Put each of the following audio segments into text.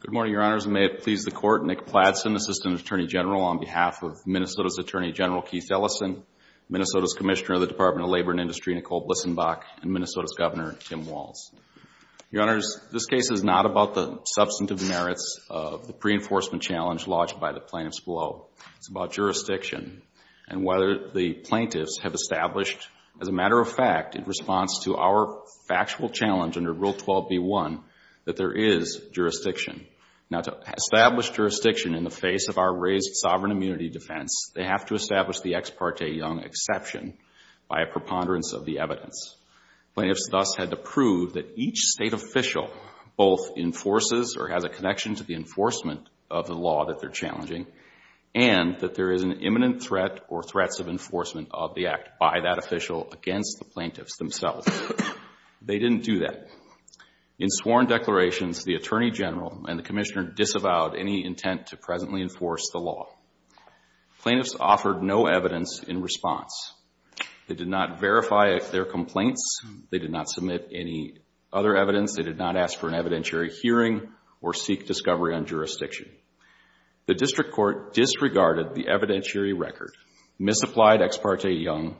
Good morning, Your Honors, and may it please the Court, Nick Pladson, Assistant Attorney General on behalf of Minnesota's Attorney General Keith Ellison, Minnesota's Commissioner of the Department of Labor and Industry Nicole Blissenbach, and Minnesota's Governor Tim Walls. Your Honors, this case is not about the substantive merits of the pre-enforcement challenge lodged by the plaintiffs below. It's about jurisdiction and whether the plaintiffs have established, as a matter of fact, in response to our factual challenge under Rule 12b.1, that there is jurisdiction. Now, to establish jurisdiction in the face of our raised sovereign immunity defense, they have to establish the ex parte young exception by a preponderance of the evidence. Plaintiffs thus had to prove that each State official both enforces or has a connection to the enforcement of the law that they're challenging and that there is an imminent threat or threats of enforcement of the act by that official against the plaintiffs themselves. They didn't do that. In sworn declarations, the Attorney General and the Commissioner disavowed any intent to presently enforce the law. Plaintiffs offered no evidence in response. They did not verify their complaints. They did not submit any other evidence. They did not ask for an evidentiary hearing or seek discovery on jurisdiction. The District Court disregarded the evidentiary record, misapplied ex parte young,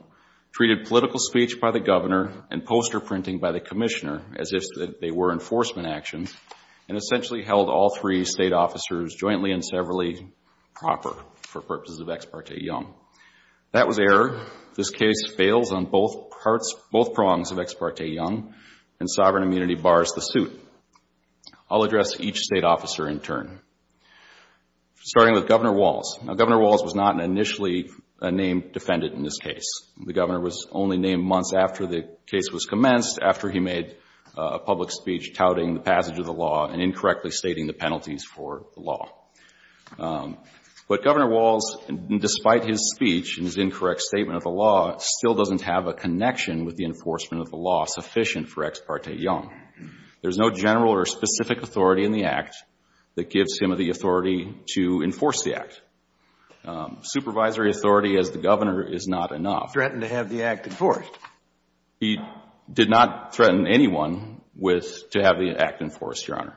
treated political speech by the Governor and poster printing by the Commissioner as if they were enforcement actions, and essentially held all three State officers jointly and severally proper for purposes of ex parte young. That was error. This case fails on both parts, both prongs of ex parte young, and sovereign immunity bars the suit. I'll address each State officer in turn, starting with Governor Walz. Now, Governor Walz was not initially a named defendant in this case. The Governor was only named months after the case was commenced, after he made a public speech touting the passage of the law and incorrectly stating the penalties for the law. But Governor Walz, despite his speech and his incorrect statement of the law, still doesn't have a connection with the enforcement of the law sufficient for ex parte young. There's no general or specific authority in the Act that gives him the authority to enforce the Act. Supervisory authority as the Governor is not enough. He threatened to have the Act enforced. He did not threaten anyone with to have the Act enforced, Your Honor,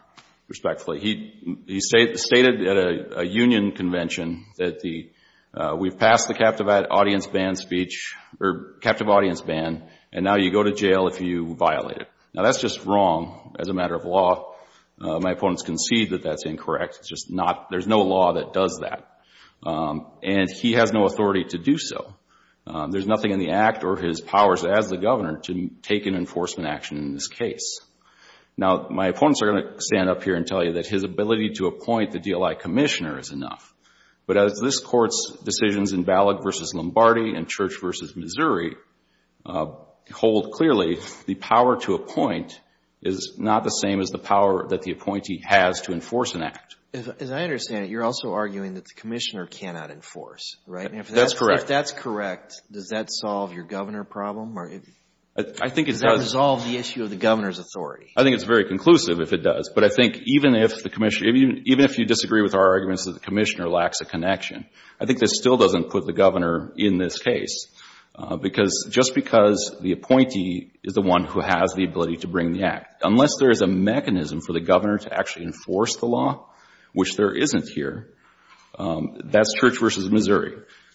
respectfully. He stated at a union convention that the, we've passed the captive audience ban speech or captive audience ban, and now you go to jail if you violate it. Now, that's just wrong as a matter of law. My opponents concede that that's incorrect. It's just not, there's no law that does that. And he has no authority to do so. There's nothing in the Act or his powers as the Governor to take an enforcement action in this case. Now, my opponents are going to stand up here and tell you that his ability to appoint the DLI Commissioner is enough. But as this Court's decisions in Ballot v. Lombardi and Church v. Missouri hold clearly, the power to appoint is not the same as the power that the appointee has to enforce an Act. As I understand it, you're also arguing that the Commissioner cannot enforce, right? That's correct. If that's correct, does that solve your Governor problem? Does that resolve the issue of the Governor's authority? I think it's very conclusive if it does. But I think even if you disagree with our arguments that the Commissioner lacks a connection, I think this still doesn't put the Governor in this case. Because, just because the appointee is the one who has the ability to bring the Act, unless there is a mechanism for the Governor to actually enforce the law, which there isn't here, that's Church v. Missouri.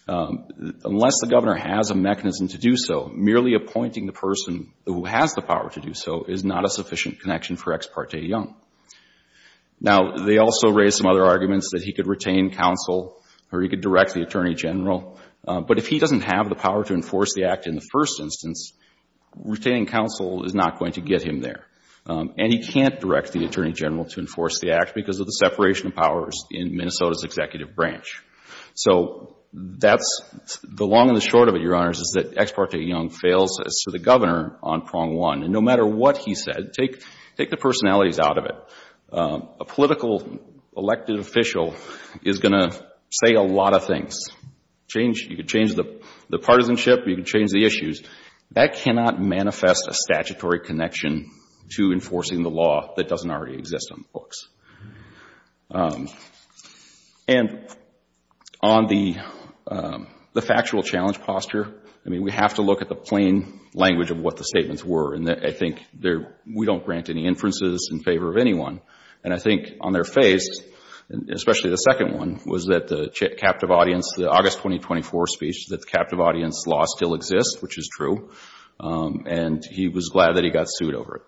Unless the Governor has a mechanism to do so, merely appointing the person who has the power to do so is not a sufficient connection for Ex Parte Young. Now, they also raised some other arguments that he could retain counsel or he could direct the Attorney General. But if he doesn't have the power to enforce the Act in the first instance, retaining counsel is not going to get him there. And he can't direct the Attorney General to enforce the Act because of the separation of powers in Minnesota's executive branch. So, that's the long and the short of it, Your Honors, is that Ex Parte Young fails as to the Governor on prong one. And no matter what he said, take the personalities out of it. A political elected official is going to say a lot of things. You can change the partisanship, you can change the issues. That cannot manifest a statutory connection to enforcing the law that doesn't already exist on the books. And on the factual challenge posture, I mean, we have to look at the plain language of what the statements were. And I think we don't grant any inferences in favor of anyone. And I think on their face, especially the second one, was that the captive audience, the August 2024 speech, that the captive audience law still exists, which is true. And he was glad that he got sued over it.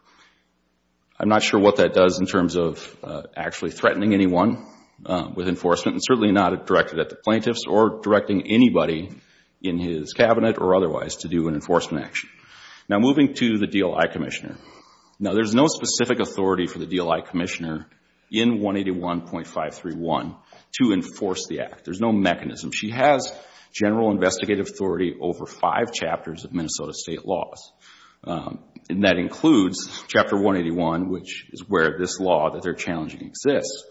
I'm not sure what that does in terms of actually threatening anyone with enforcement and certainly not directed at the plaintiffs or directing anybody in his cabinet or otherwise to do an enforcement action. Now moving to the DLI Commissioner. Now there's no specific authority for the DLI Commissioner in 181.531 to enforce the act. There's no mechanism. She has general investigative authority over five chapters of Minnesota state laws. And that includes Chapter 181, which is where this law that they're challenging exists.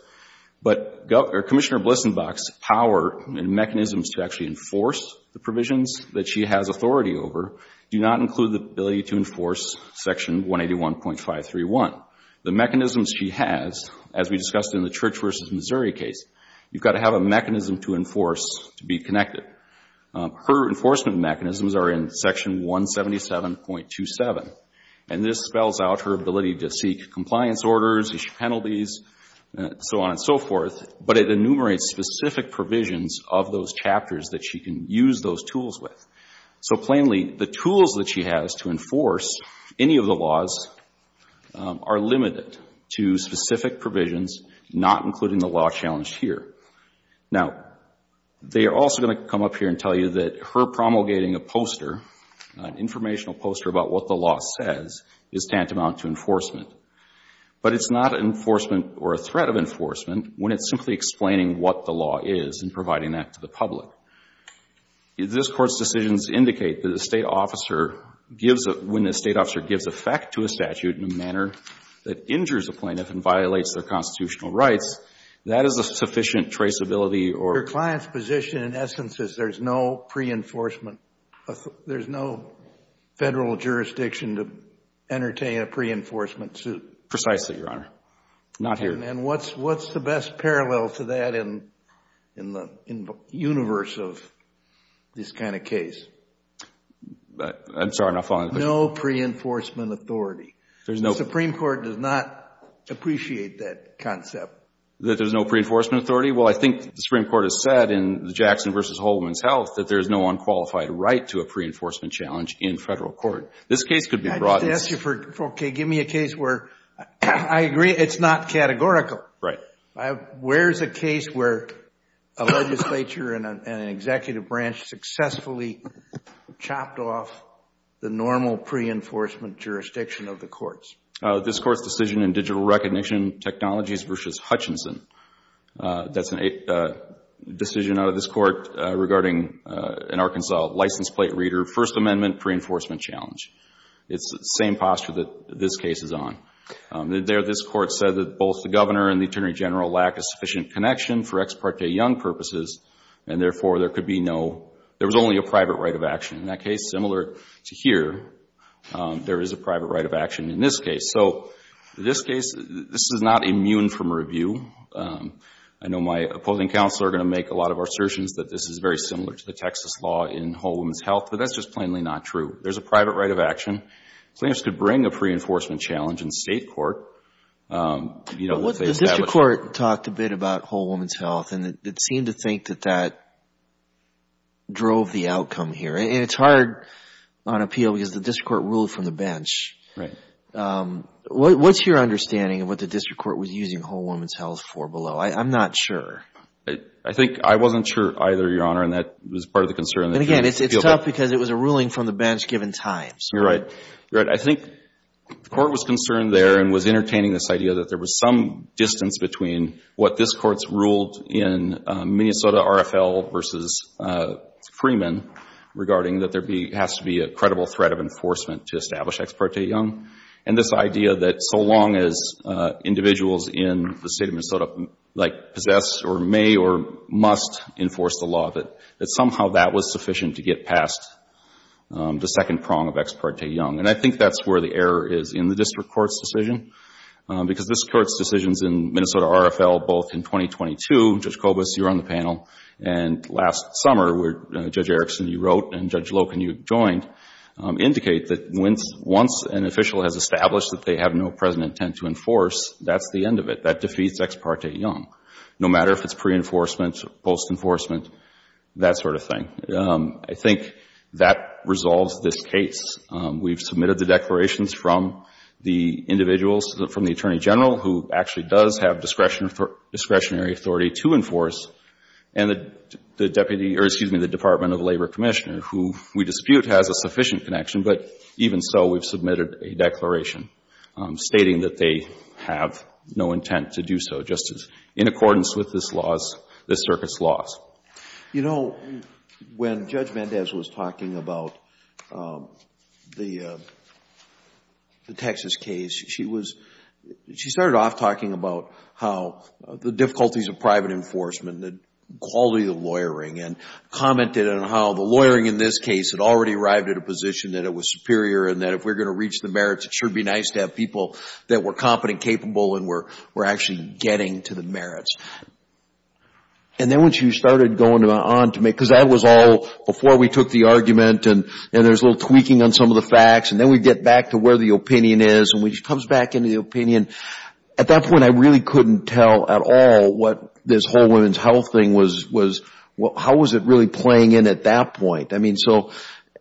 But Commissioner Blissenbach's power and mechanisms to actually enforce the provisions that she has authority over do not include the ability to enforce Section 181.531. The mechanisms she has, as we discussed in the Church v. Missouri case, you've got to have a mechanism to enforce to be connected. Her enforcement mechanisms are in Section 177.27. And this spells out her ability to seek compliance orders, issue penalties, and so on and so forth. But it enumerates specific provisions of those chapters that she can use those tools with. So plainly, the tools that she has to enforce any of the laws are limited to specific provisions, not including the law challenged here. Now they are also going to come up here and tell you that her promulgating a poster, an informational poster about what the law says, is tantamount to enforcement. But it's not an enforcement or a threat of enforcement when it's simply explaining what the law is and providing that to the public. If this Court's decisions indicate that a state officer gives, when a state officer gives effect to a statute in a manner that injures a plaintiff and violates their constitutional rights, that is a sufficient traceability or Your client's position, in essence, is there's no pre-enforcement, there's no Federal jurisdiction to entertain a pre-enforcement suit. Precisely, Your Honor. Not here. And what's the best parallel to that in the universe of this kind of case? I'm sorry, I'm not following the question. No pre-enforcement authority. The Supreme Court does not appreciate that concept. That there's no pre-enforcement authority? Well, I think the Supreme Court has said in the Jackson v. Holdman's Health that there's no unqualified right to a pre-enforcement challenge in Federal court. This case could be broadened. I'm going to ask you for, okay, give me a case where I agree it's not categorical. Where's a case where a legislature and an executive branch successfully chopped off the normal pre-enforcement jurisdiction of the courts? This Court's decision in Digital Recognition Technologies v. Hutchinson. That's a decision out of this Court regarding an Arkansas license plate reader First Amendment pre-enforcement challenge. It's the same posture that this case is on. This Court said that both the Governor and the Attorney General lack a sufficient connection for ex parte young purposes and therefore there could be no, there was only a private right of action. In that case, similar to here, there is a private right of action in this case. So, this case, this is not immune from review. I know my opposing counsel are going to make a lot of assertions that this is very similar to the Texas law in Holdman's Health, but that's just plainly not true. There's a private right of action. The plaintiffs could bring a pre-enforcement challenge in State court. The District Court talked a bit about Holdman's Health and it seemed to think that that drove the outcome here. It's hard on appeal because the District Court ruled from the bench. What's your understanding of what the District Court was using Holdman's Health for below? I'm not sure. I think I wasn't sure either, Your Honor, and that was part of the concern. And again, it's tough because it was a ruling from the bench given time. You're right. You're right. I think the Court was concerned there and was entertaining this idea that there was some distance between what this Court's ruled in Minnesota RFL versus Freeman regarding that there has to be a credible threat of enforcement to establish ex parte young and this idea that so long as individuals in the State of Minnesota possess or may or must enforce the law, that somehow that was sufficient to get past the second prong of ex parte young. And I think that's where the error is in the District Court's decision because this Court's decisions in Minnesota RFL both in 2022, Judge Kobus, you're on the panel, and last summer where Judge Erickson, you wrote, and Judge Loken, you joined, indicate that once an official has established that they have no present intent to enforce, that's the end of it. That defeats ex parte young, no matter if it's pre-enforcement, post-enforcement, that sort of thing. I think that resolves this case. We've submitted the declarations from the individuals, from the Attorney General, who actually does have discretionary authority to enforce, and the Department of Labor Commissioner, who we dispute has a sufficient connection, but even so, we've submitted a declaration stating that they have no intent to do so, just in accordance with this Circuit's laws. You know, when Judge Mendez was talking about the Texas case, she started off talking about how the difficulties of private enforcement, the quality of lawyering, and commented on how the lawyering in this case had already arrived at a position that it was superior and that if we're to reach the merits, it should be nice to have people that were competent, capable, and were actually getting to the merits. And then once you started going on to make, because that was all before we took the argument, and there's a little tweaking on some of the facts, and then we get back to where the opinion is, and when she comes back into the opinion, at that point I really couldn't tell at all what this whole women's health thing was, how was it really playing in at that point? I mean, so,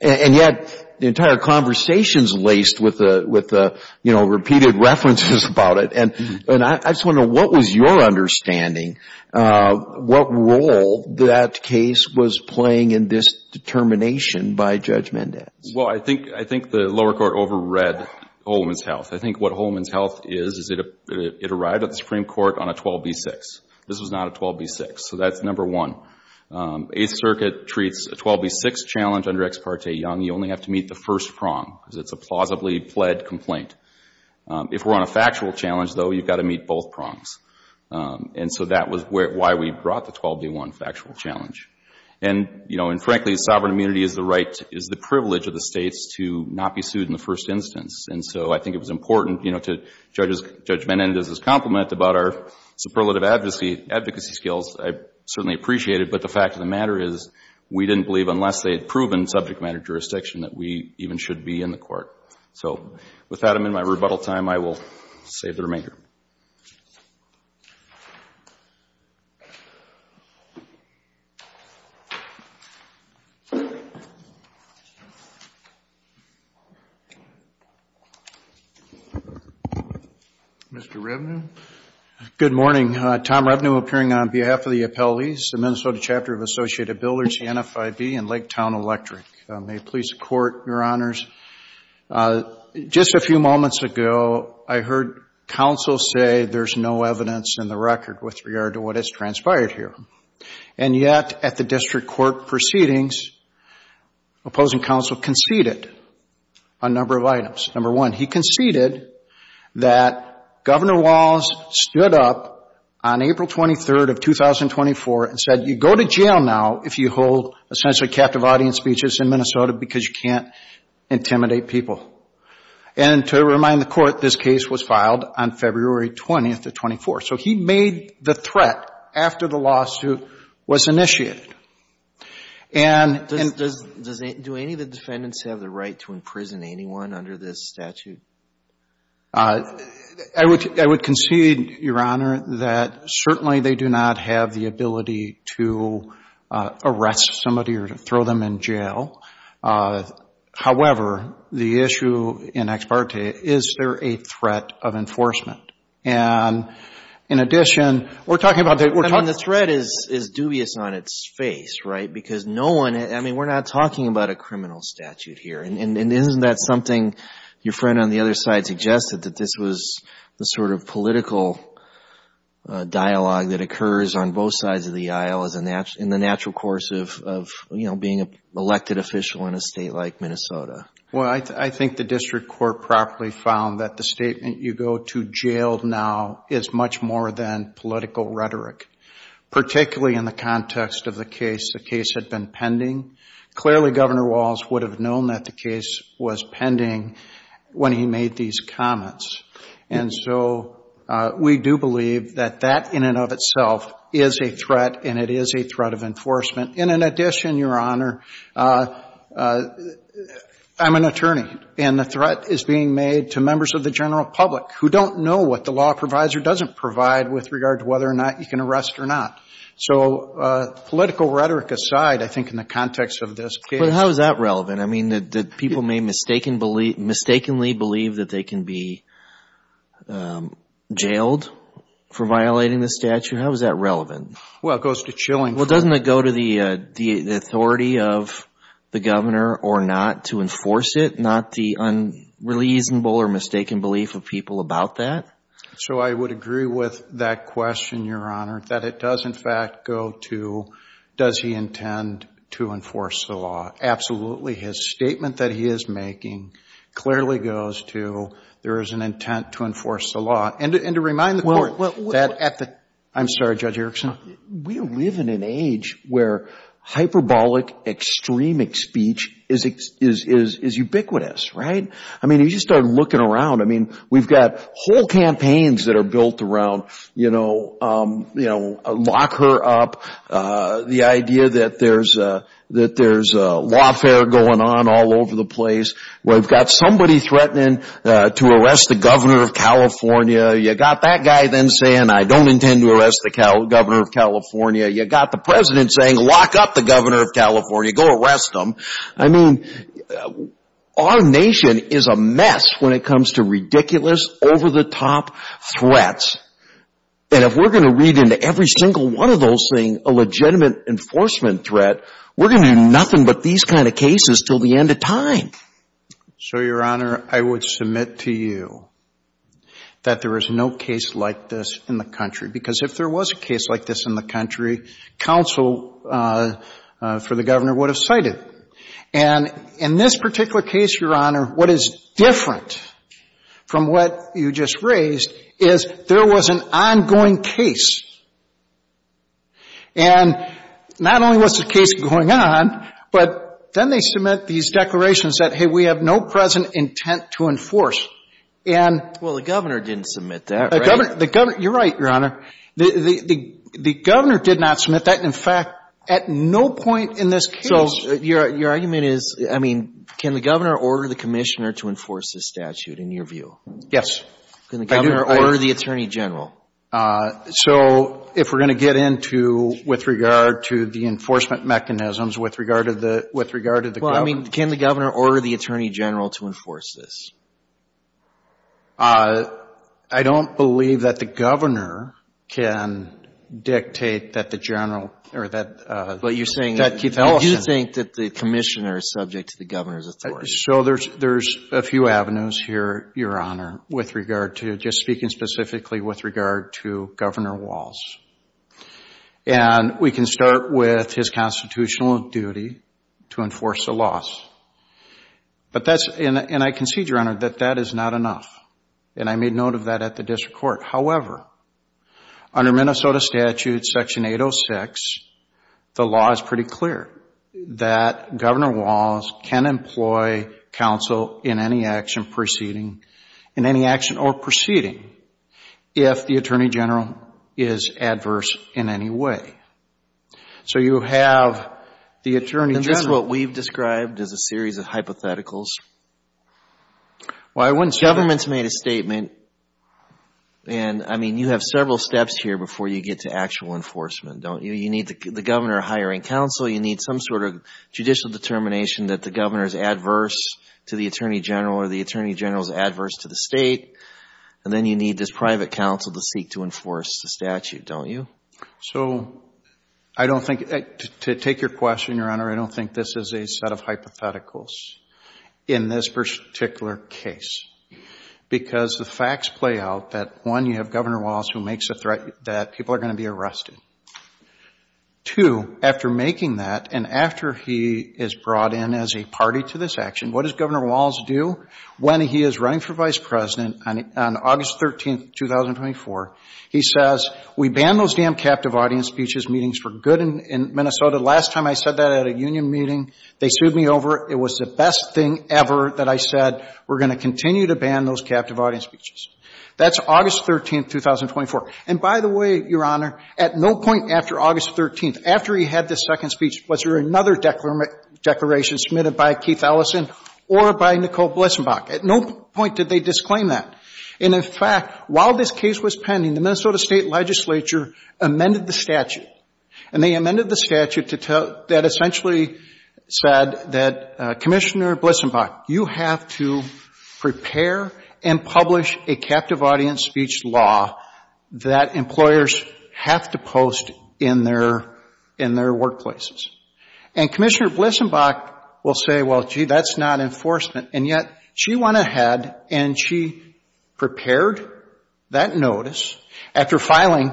and yet the entire conversation's laced with the, you know, repeated references about it, and I just wonder what was your understanding of what role that case was playing in this determination by Judge Mendez? Well, I think the lower court over-read Whole Woman's Health. I think what Whole Woman's Health is, is it arrived at the Supreme Court on a 12b6. This was not a 12b6, so that's number one. Eighth Circuit treats a 12b6 challenge under Ex parte Young, you only have to meet the first prong, because it's a plausibly pled complaint. If we're on a factual challenge, though, you've got to meet both prongs. And so that was why we brought the 12b1 factual challenge. And, you know, and frankly, sovereign immunity is the right, is the privilege of the States to not be sued in the first instance. And so I think it was important, you know, to Judge Mendez' compliment about our advocacy skills. I certainly appreciate it, but the fact of the matter is we didn't believe, unless they had proven subject matter jurisdiction, that we even should be in the court. So with that, I'm in my rebuttal time. I will save the remainder. Mr. Revenue. Good morning. Tom Revenue appearing on behalf of the appellees, the Minnesota Chapter of Associated Builders, the NFIB, and Lake Town Electric. May it please the Court, Your Honors. Just a few moments ago, I heard counsel say there's no evidence in the record with regard to what has transpired here. And yet, at the district court proceedings, opposing counsel conceded a number of items. Number one, he conceded that Governor Walz stood up on April 23rd of 2024 and said, you go to jail now if you hold essentially captive audience speeches in Minnesota because you can't intimidate people. And to remind the Court, this case was filed on February 20th of 2024. So he made the threat after the lawsuit was initiated. Do any of the defendants have the right to imprison anyone under this statute? I would concede, Your Honor, that certainly they do not have the ability to arrest somebody or throw them in jail. However, the issue in ex parte, is there a threat of enforcement? And in addition, we're talking about the threat is dubious on its face, right? Because no one, I mean, we're not talking about a criminal statute here. And isn't that something your friend on the other side suggested, that this was the sort of political dialogue that occurs on both sides of the aisle in the natural course of, you know, being an elected official in a state like Minnesota? Well, I think the District Court properly found that the statement, you go to jail now, is much more than political rhetoric, particularly in the context of the case. The case had been pending. Clearly, Governor Walz would have known that the case was pending when he made these comments. And so, we do believe that that in and of itself is a threat and it is a threat of enforcement. In addition, Your Honor, I'm an attorney and the threat is being made to members of the general public who don't know what the law provider doesn't provide with regard to whether or not you can arrest or not. So, political rhetoric aside, I think in the context of this case. But how is that relevant? I mean, that people may mistakenly believe that they can be jailed for violating the statute. How is that relevant? Well, it goes to chilling. Well, doesn't it go to the authority of the governor or not to enforce it? Not the unreasonable or mistaken belief of people about that? So, I would agree with that question, Your Honor, that it does in fact go to, does he intend to enforce the law? Absolutely. His there is an intent to enforce the law. And to remind the court that at the. I'm sorry, Judge Erickson. We live in an age where hyperbolic, extremist speech is ubiquitous, right? I mean, you just start looking around. I mean, we've got whole campaigns that are built around, you know, lock her up. The idea that there's lawfare going on all over the place. We've got somebody threatening to arrest the governor of California. You got that guy then saying, I don't intend to arrest the governor of California. You got the president saying, lock up the governor of California. Go arrest him. I mean, our nation is a mess when it comes to ridiculous, over-the-top threats. And if we're going to read into every single one of those things a legitimate enforcement threat, we're going to do nothing but these kind of cases until the end of time. So, Your Honor, I would submit to you that there is no case like this in the country. Because if there was a case like this in the country, counsel for the governor would have cited. And in this particular case, Your Honor, what is different from what you just raised is there was an ongoing case. And not only was the case going on, but then they submit these declarations that, hey, we have no present intent to enforce. And the governor, you're right, Your Honor, the governor did not submit that. In fact, at no point in this case. So your argument is, I mean, can the governor order the commissioner to enforce this statute in your view? Yes. Can the governor order the attorney general? So if we're going to get into with regard to the enforcement mechanisms with regard to the with regard to the governor. Well, I mean, can the governor order the attorney general to enforce this? I don't believe that the governor can dictate that the general or that. But you're saying that you think that the commissioner is subject to the governor's authority. So there's a few avenues here, Your Honor, with regard to just speaking specifically with regard to Governor Walz. And we can start with his constitutional duty to enforce the laws. But that's, and I concede, Your Honor, that that is not enough. And I made note of that at the district court. However, under Minnesota Statute Section 806, the law is pretty clear that Governor Walz can employ counsel in any action proceeding, in any action or proceeding, if the attorney general is adverse in any way. So you have the attorney general. Is this what we've described as a series of hypotheticals? Well, I wouldn't say that. Government's made a statement. And I mean, you have several steps here before you get to actual enforcement, don't you? You need the governor hiring counsel. You need some sort of judicial determination that the governor is adverse to the attorney general or the attorney general is adverse to the state. And then you need this private counsel to seek to enforce the statute, don't you? So I don't think, to take your question, Your Honor, I don't think this is a set of hypotheticals in this particular case. Because the facts play out that, one, you have Governor Walz who makes that people are going to be arrested. Two, after making that and after he is brought in as a party to this action, what does Governor Walz do when he is running for vice president on August 13, 2024? He says, we ban those damn captive audience speeches meetings for good in Minnesota. Last time I said that at a union meeting, they sued me over. It was the best thing ever that I said, we're going to continue to ban those captive audience speeches. That's August 13, 2024. And by the way, Your Honor, at no point after August 13, after he had this second speech, was there another declaration submitted by Keith Ellison or by Nicole Blissenbach. At no point did they disclaim that. And in fact, while this case was pending, the Minnesota State Legislature amended the statute. And they amended the statute that essentially said that, Commissioner Blissenbach, you have to prepare and publish a captive audience speech law that employers have to post in their workplaces. And Commissioner Blissenbach will say, well, gee, that's not enforcement. And yet she went ahead and she prepared that notice after filing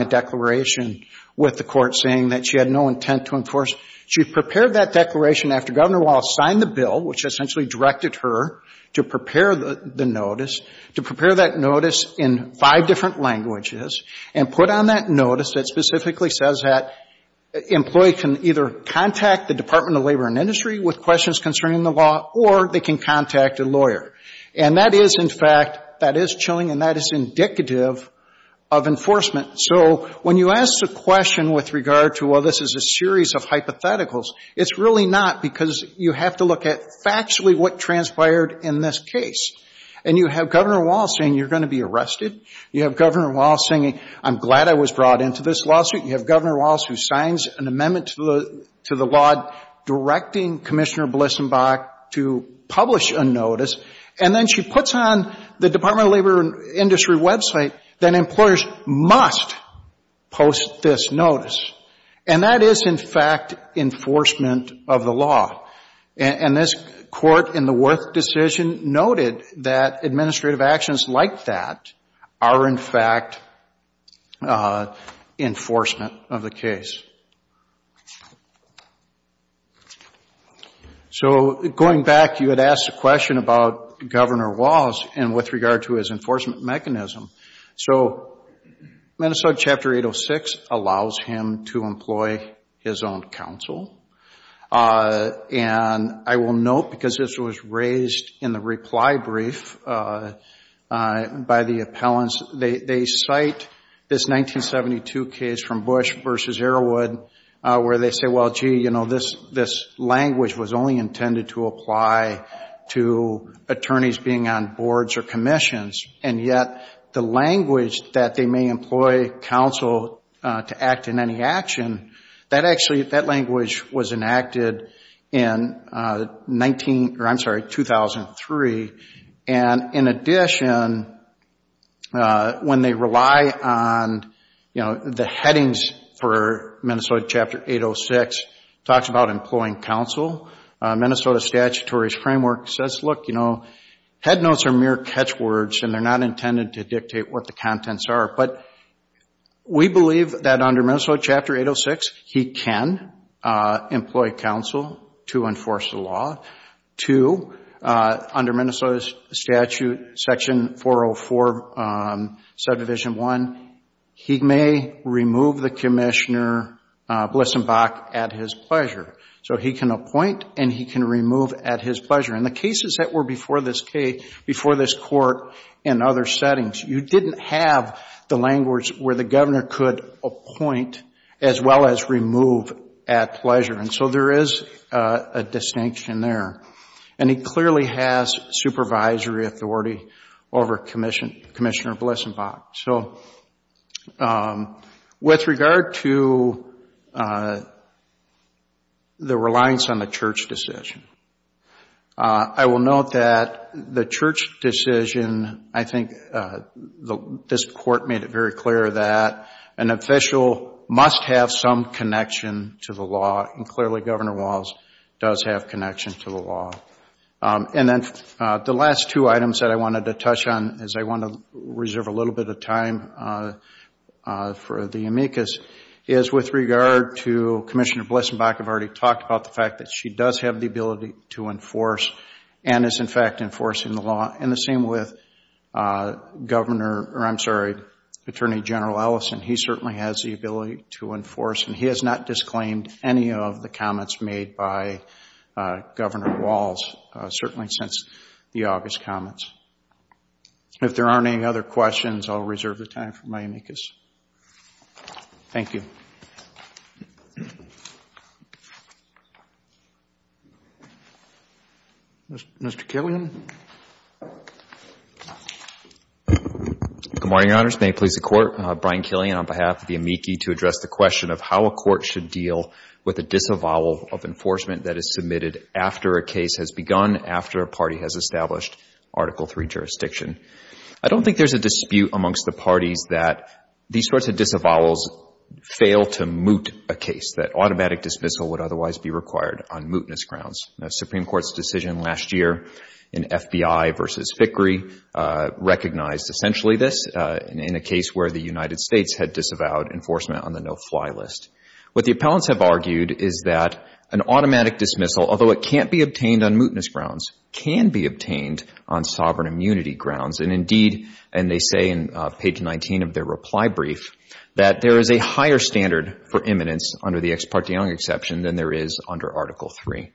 a declaration with the court saying that she had no intent to enforce. She prepared that declaration after Governor Walz signed the bill, which essentially directed her to prepare the notice, to prepare that notice in five different languages and put on that notice that specifically says that an employee can either contact the Department of Labor and Industry with questions concerning the law or they can contact a lawyer. And that is, in fact, that is chilling and that is indicative of enforcement. So when you ask a question with regard to, well, this is a series of hypotheticals, it's really not because you have to look at what transpired in this case. And you have Governor Walz saying you're going to be arrested. You have Governor Walz saying, I'm glad I was brought into this lawsuit. You have Governor Walz who signs an amendment to the law directing Commissioner Blissenbach to publish a notice. And then she puts on the Department of Labor and Industry website that employers must post this notice. And that is, in fact, enforcement of the law. And this court in the Worth decision noted that administrative actions like that are, in fact, enforcement of the case. So going back, you had asked a question about Governor Walz and with regard to his enforcement mechanism. So Minnesota Chapter 806 allows him to employ his own counsel. And I will note, because this was raised in the reply brief by the appellants, they cite this 1972 case from Bush versus Arrowwood where they say, well, gee, you know, this language was only intended to apply to attorneys being on boards or commissions. And yet the language that they may employ counsel to act in any action, that actually, that language was enacted in 19, or I'm sorry, 2003. And in addition, when they rely on, you know, the headings for Minnesota Chapter 806, talks about employing counsel. Minnesota Statutory Framework says, look, you know, headnotes are mere catchwords and they're not intended to dictate what the contents are. But we believe that under Minnesota Chapter 806, he can employ counsel to enforce the law. Two, under Minnesota Statute Section 404, Subdivision 1, he may remove the commissioner Blissenbach at his pleasure. So he can appoint and he can remove at his pleasure. In the cases that were before this case, before this court and other settings, you didn't have the language where the governor could appoint as well as remove at pleasure. And so there is a distinction there. And he clearly has supervisory authority over Commissioner Blissenbach. So with regard to the reliance on the church decision, I will note that the church decision, I think this court made it very clear that an official must have some connection to the law, and clearly Governor Walz does have connection to the law. And then the last two items that I time for the amicus is with regard to Commissioner Blissenbach. I've already talked about the fact that she does have the ability to enforce and is in fact enforcing the law. And the same with Governor, or I'm sorry, Attorney General Ellison. He certainly has the ability to enforce and he has not disclaimed any of the comments made by Governor Walz, certainly since the August comments. If there aren't any other questions, I'll reserve the time for my amicus. Thank you. Mr. Killian. Good morning, Your Honors. May it please the Court. Brian Killian on behalf of the amici to address the question of how a court should deal with a disavowal of enforcement that is after a case has begun, after a party has established Article III jurisdiction. I don't think there's a dispute amongst the parties that these sorts of disavowals fail to moot a case, that automatic dismissal would otherwise be required on mootness grounds. The Supreme Court's decision last year in FBI v. Fickrey recognized essentially this in a case where the United States had disavowed enforcement on the no-fly list. What the appellants have argued is that an automatic dismissal, although it can't be obtained on mootness grounds, can be obtained on sovereign immunity grounds. Indeed, and they say in page 19 of their reply brief, that there is a higher standard for imminence under the Ex parte Young exception than there is under Article III.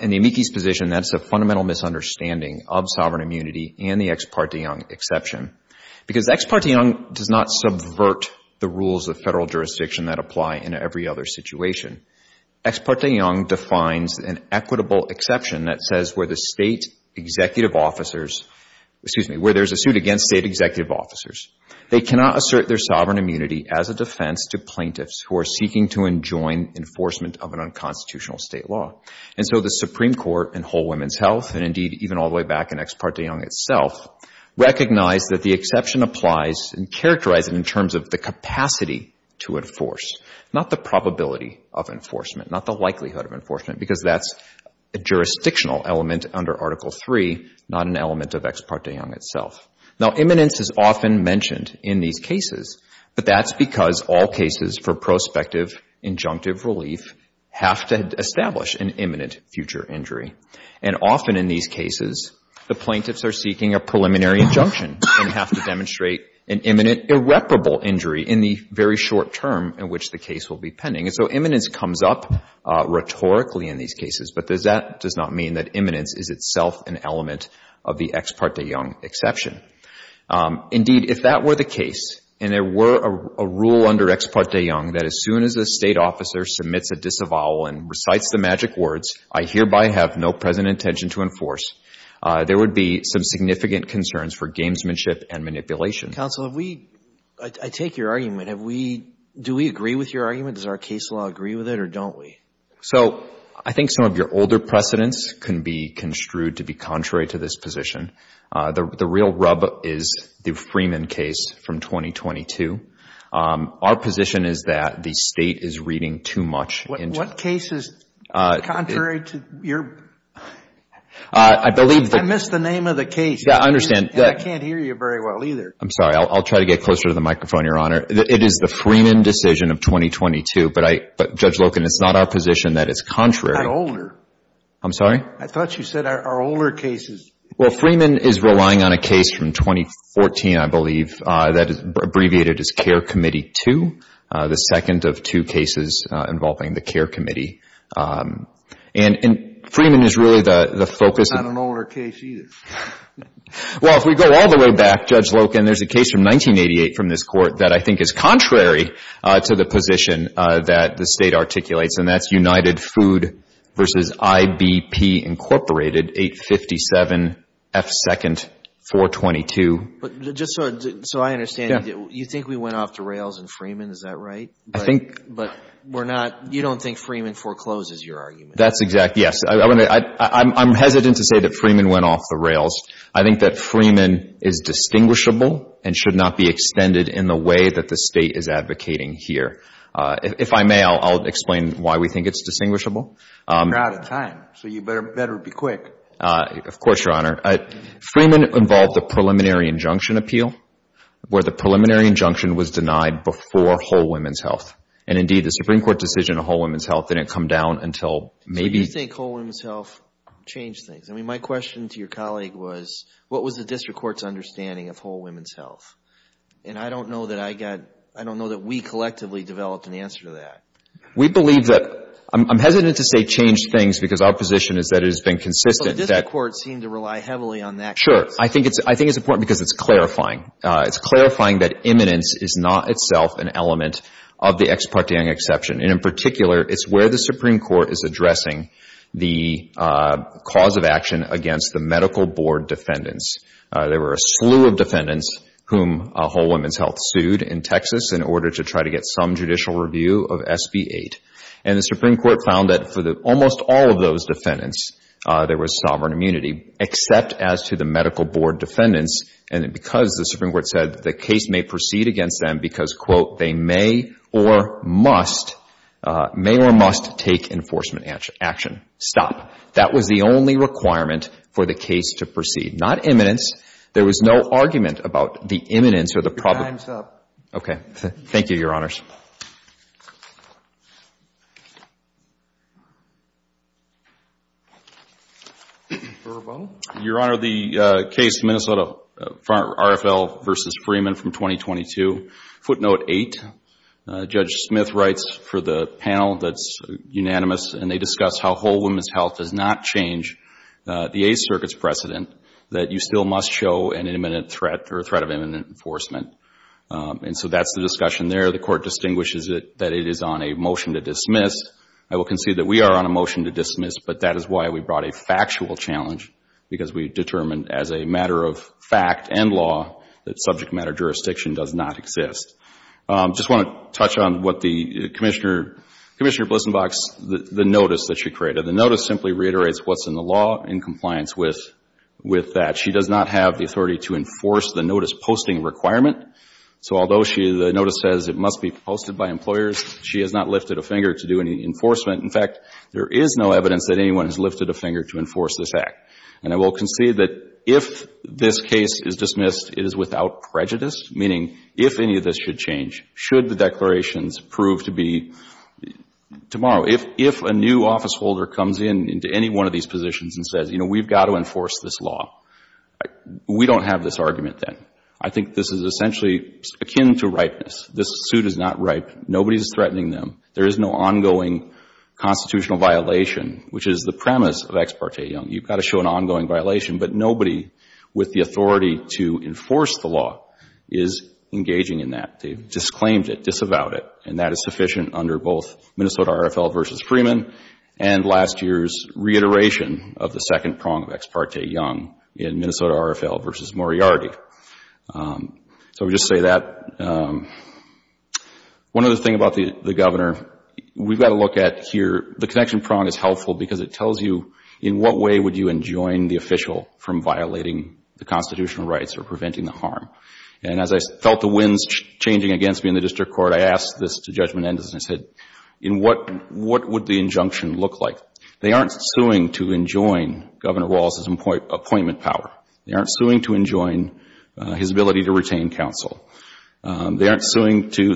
In the amici's position, that's a fundamental misunderstanding of sovereign immunity and the Ex parte Young exception. Because Ex parte Young does not subvert the rules of federal jurisdiction that apply in every other situation, Ex parte Young defines an equitable exception that says where the state executive officers, excuse me, where there's a suit against state executive officers, they cannot assert their sovereign immunity as a defense to plaintiffs who are seeking to enjoin enforcement of an unconstitutional state law. And so the Supreme Court in Whole Women's Health, and indeed even all the way back in Ex parte Young itself, recognized that the applies and characterized it in terms of the capacity to enforce, not the probability of enforcement, not the likelihood of enforcement, because that's a jurisdictional element under Article III, not an element of Ex parte Young itself. Now, imminence is often mentioned in these cases, but that's because all cases for prospective injunctive relief have to establish an imminent future injury. And often in these cases, the plaintiffs are seeking a preliminary injunction and have to demonstrate an imminent irreparable injury in the very short term in which the case will be pending. And so imminence comes up rhetorically in these cases, but that does not mean that imminence is itself an element of the Ex parte Young exception. Indeed, if that were the case and there were a rule under Ex parte Young that as soon as a state officer submits a disavowal and recites the magic words, I hereby have no present intention to enforce, there would be some significant concerns for gamesmanship and manipulation. Counsel, I take your argument. Do we agree with your argument? Does our case law agree with it or don't we? So I think some of your older precedents can be construed to be contrary to this position. The real rub is the Freeman case from 2022. Our position is that the state is reading too much. What case is contrary to your? I missed the name of the case. Yeah, I understand. I can't hear you very well either. I'm sorry. I'll try to get closer to the microphone, Your Honor. It is the Freeman decision of 2022, but Judge Loken, it's not our position that it's contrary. I'm sorry? I thought you said our older cases. Well, Freeman is relying on a case from 2014, I believe, that is abbreviated as Care Committee 2, the second of two cases involving the Care Committee. And Freeman is really the focus. It's not an older case either. Well, if we go all the way back, Judge Loken, there's a case from 1988 from this court that I think is contrary to the position that the state articulates, and that's United Food versus IBP Incorporated, 857 F2nd 422. Just so I understand, you think we went off the rails in Freeman, is that right? I think. But you don't think Freeman forecloses your argument? That's exact, yes. I'm hesitant to say that Freeman went off the rails. I think that Freeman is distinguishable and should not be extended in the way that the state is advocating here. If I may, I'll explain why we think it's distinguishable. You're out of time, so you better be quick. Of course, Your Honor. Freeman involved the Preliminary Injunction Appeal, where the preliminary injunction was denied before Whole Women's Health. And indeed, the Supreme Court decision on Whole Women's Health didn't come down until maybe... So you think Whole Women's Health changed things? I mean, my question to your colleague was, what was the district court's understanding of Whole Women's Health? And I don't know that I got, I don't know that we collectively developed an answer to that. We believe that, I'm hesitant to say changed things because our position is that it has been consistent that... So the district court seemed to rely heavily on that case. Sure. I think it's important because it's clarifying. It's clarifying that imminence is not itself an element of the ex parte exception. And in particular, it's where the Supreme Court is addressing the cause of action against the medical board defendants. There were a slew of defendants whom Whole Women's Health sued in Texas in order to try to get some judicial review of SB 8. And the Supreme Court found that for almost all of those defendants, there was sovereign immunity, except as to the medical board defendants. And because the Supreme Court said the case may proceed against them because, quote, they may or must, may or must take enforcement action. Stop. That was the only requirement for the case to proceed. Not imminence. There was no argument about the imminence or the... Your time's up. Okay. Thank you, Your Honors. Mr. Verbo? Your Honor, the case, Minnesota RFL v. Freeman from 2022, footnote 8. Judge Smith writes for the panel that's unanimous, and they discuss how Whole Women's Health does not change the Eighth Circuit's precedent that you still must show an imminent threat or a threat of imminent enforcement. And so that's the discussion there. The court distinguishes that it is on a dismiss. I will concede that we are on a motion to dismiss, but that is why we brought a factual challenge because we determined as a matter of fact and law that subject matter jurisdiction does not exist. I just want to touch on what the Commissioner, Commissioner Blissenbach's, the notice that she created. The notice simply reiterates what's in the law in compliance with that. She does not have the authority to enforce the notice posting requirement. So although the notice says it must be posted by employers, she has not lifted a finger to do any enforcement. In fact, there is no evidence that anyone has lifted a finger to enforce this act. And I will concede that if this case is dismissed, it is without prejudice, meaning if any of this should change, should the declarations prove to be... Tomorrow, if a new officeholder comes in into any one of these positions and says, you know, we've got to enforce this law, we don't have this argument then. I think this is essentially akin to ripeness. This suit is not ripe. Nobody's threatening them. There is no ongoing constitutional violation, which is the premise of Ex parte Young. You've got to show an ongoing violation, but nobody with the authority to enforce the law is engaging in that. They've disclaimed it, disavowed it, and that is sufficient under both Minnesota RFL v. Freeman and last year's reiteration of the in Minnesota RFL v. Moriarty. So we just say that. One other thing about the Governor, we've got to look at here, the connection prong is helpful because it tells you in what way would you enjoin the official from violating the constitutional rights or preventing the harm. And as I felt the winds changing against me in the district court, I asked this to Judge Menendez and I said, in what would the injunction look like? They aren't suing to enjoin Governor Walz's appointment power. They aren't suing to enjoin his ability to retain counsel. They're suing to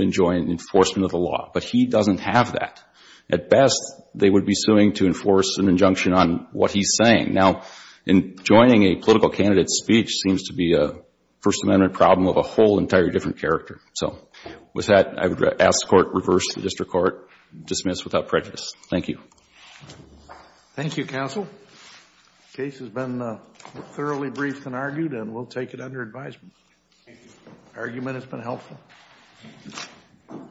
enjoin enforcement of the law, but he doesn't have that. At best, they would be suing to enforce an injunction on what he's saying. Now, enjoining a political candidate's speech seems to be a First Amendment problem of a whole entire different character. So with that, I would ask the court to reverse the district court, dismiss without prejudice. Thank you. Thank you, counsel. Case has been thoroughly briefed and argued and we'll take it under advisement. Argument has been helpful.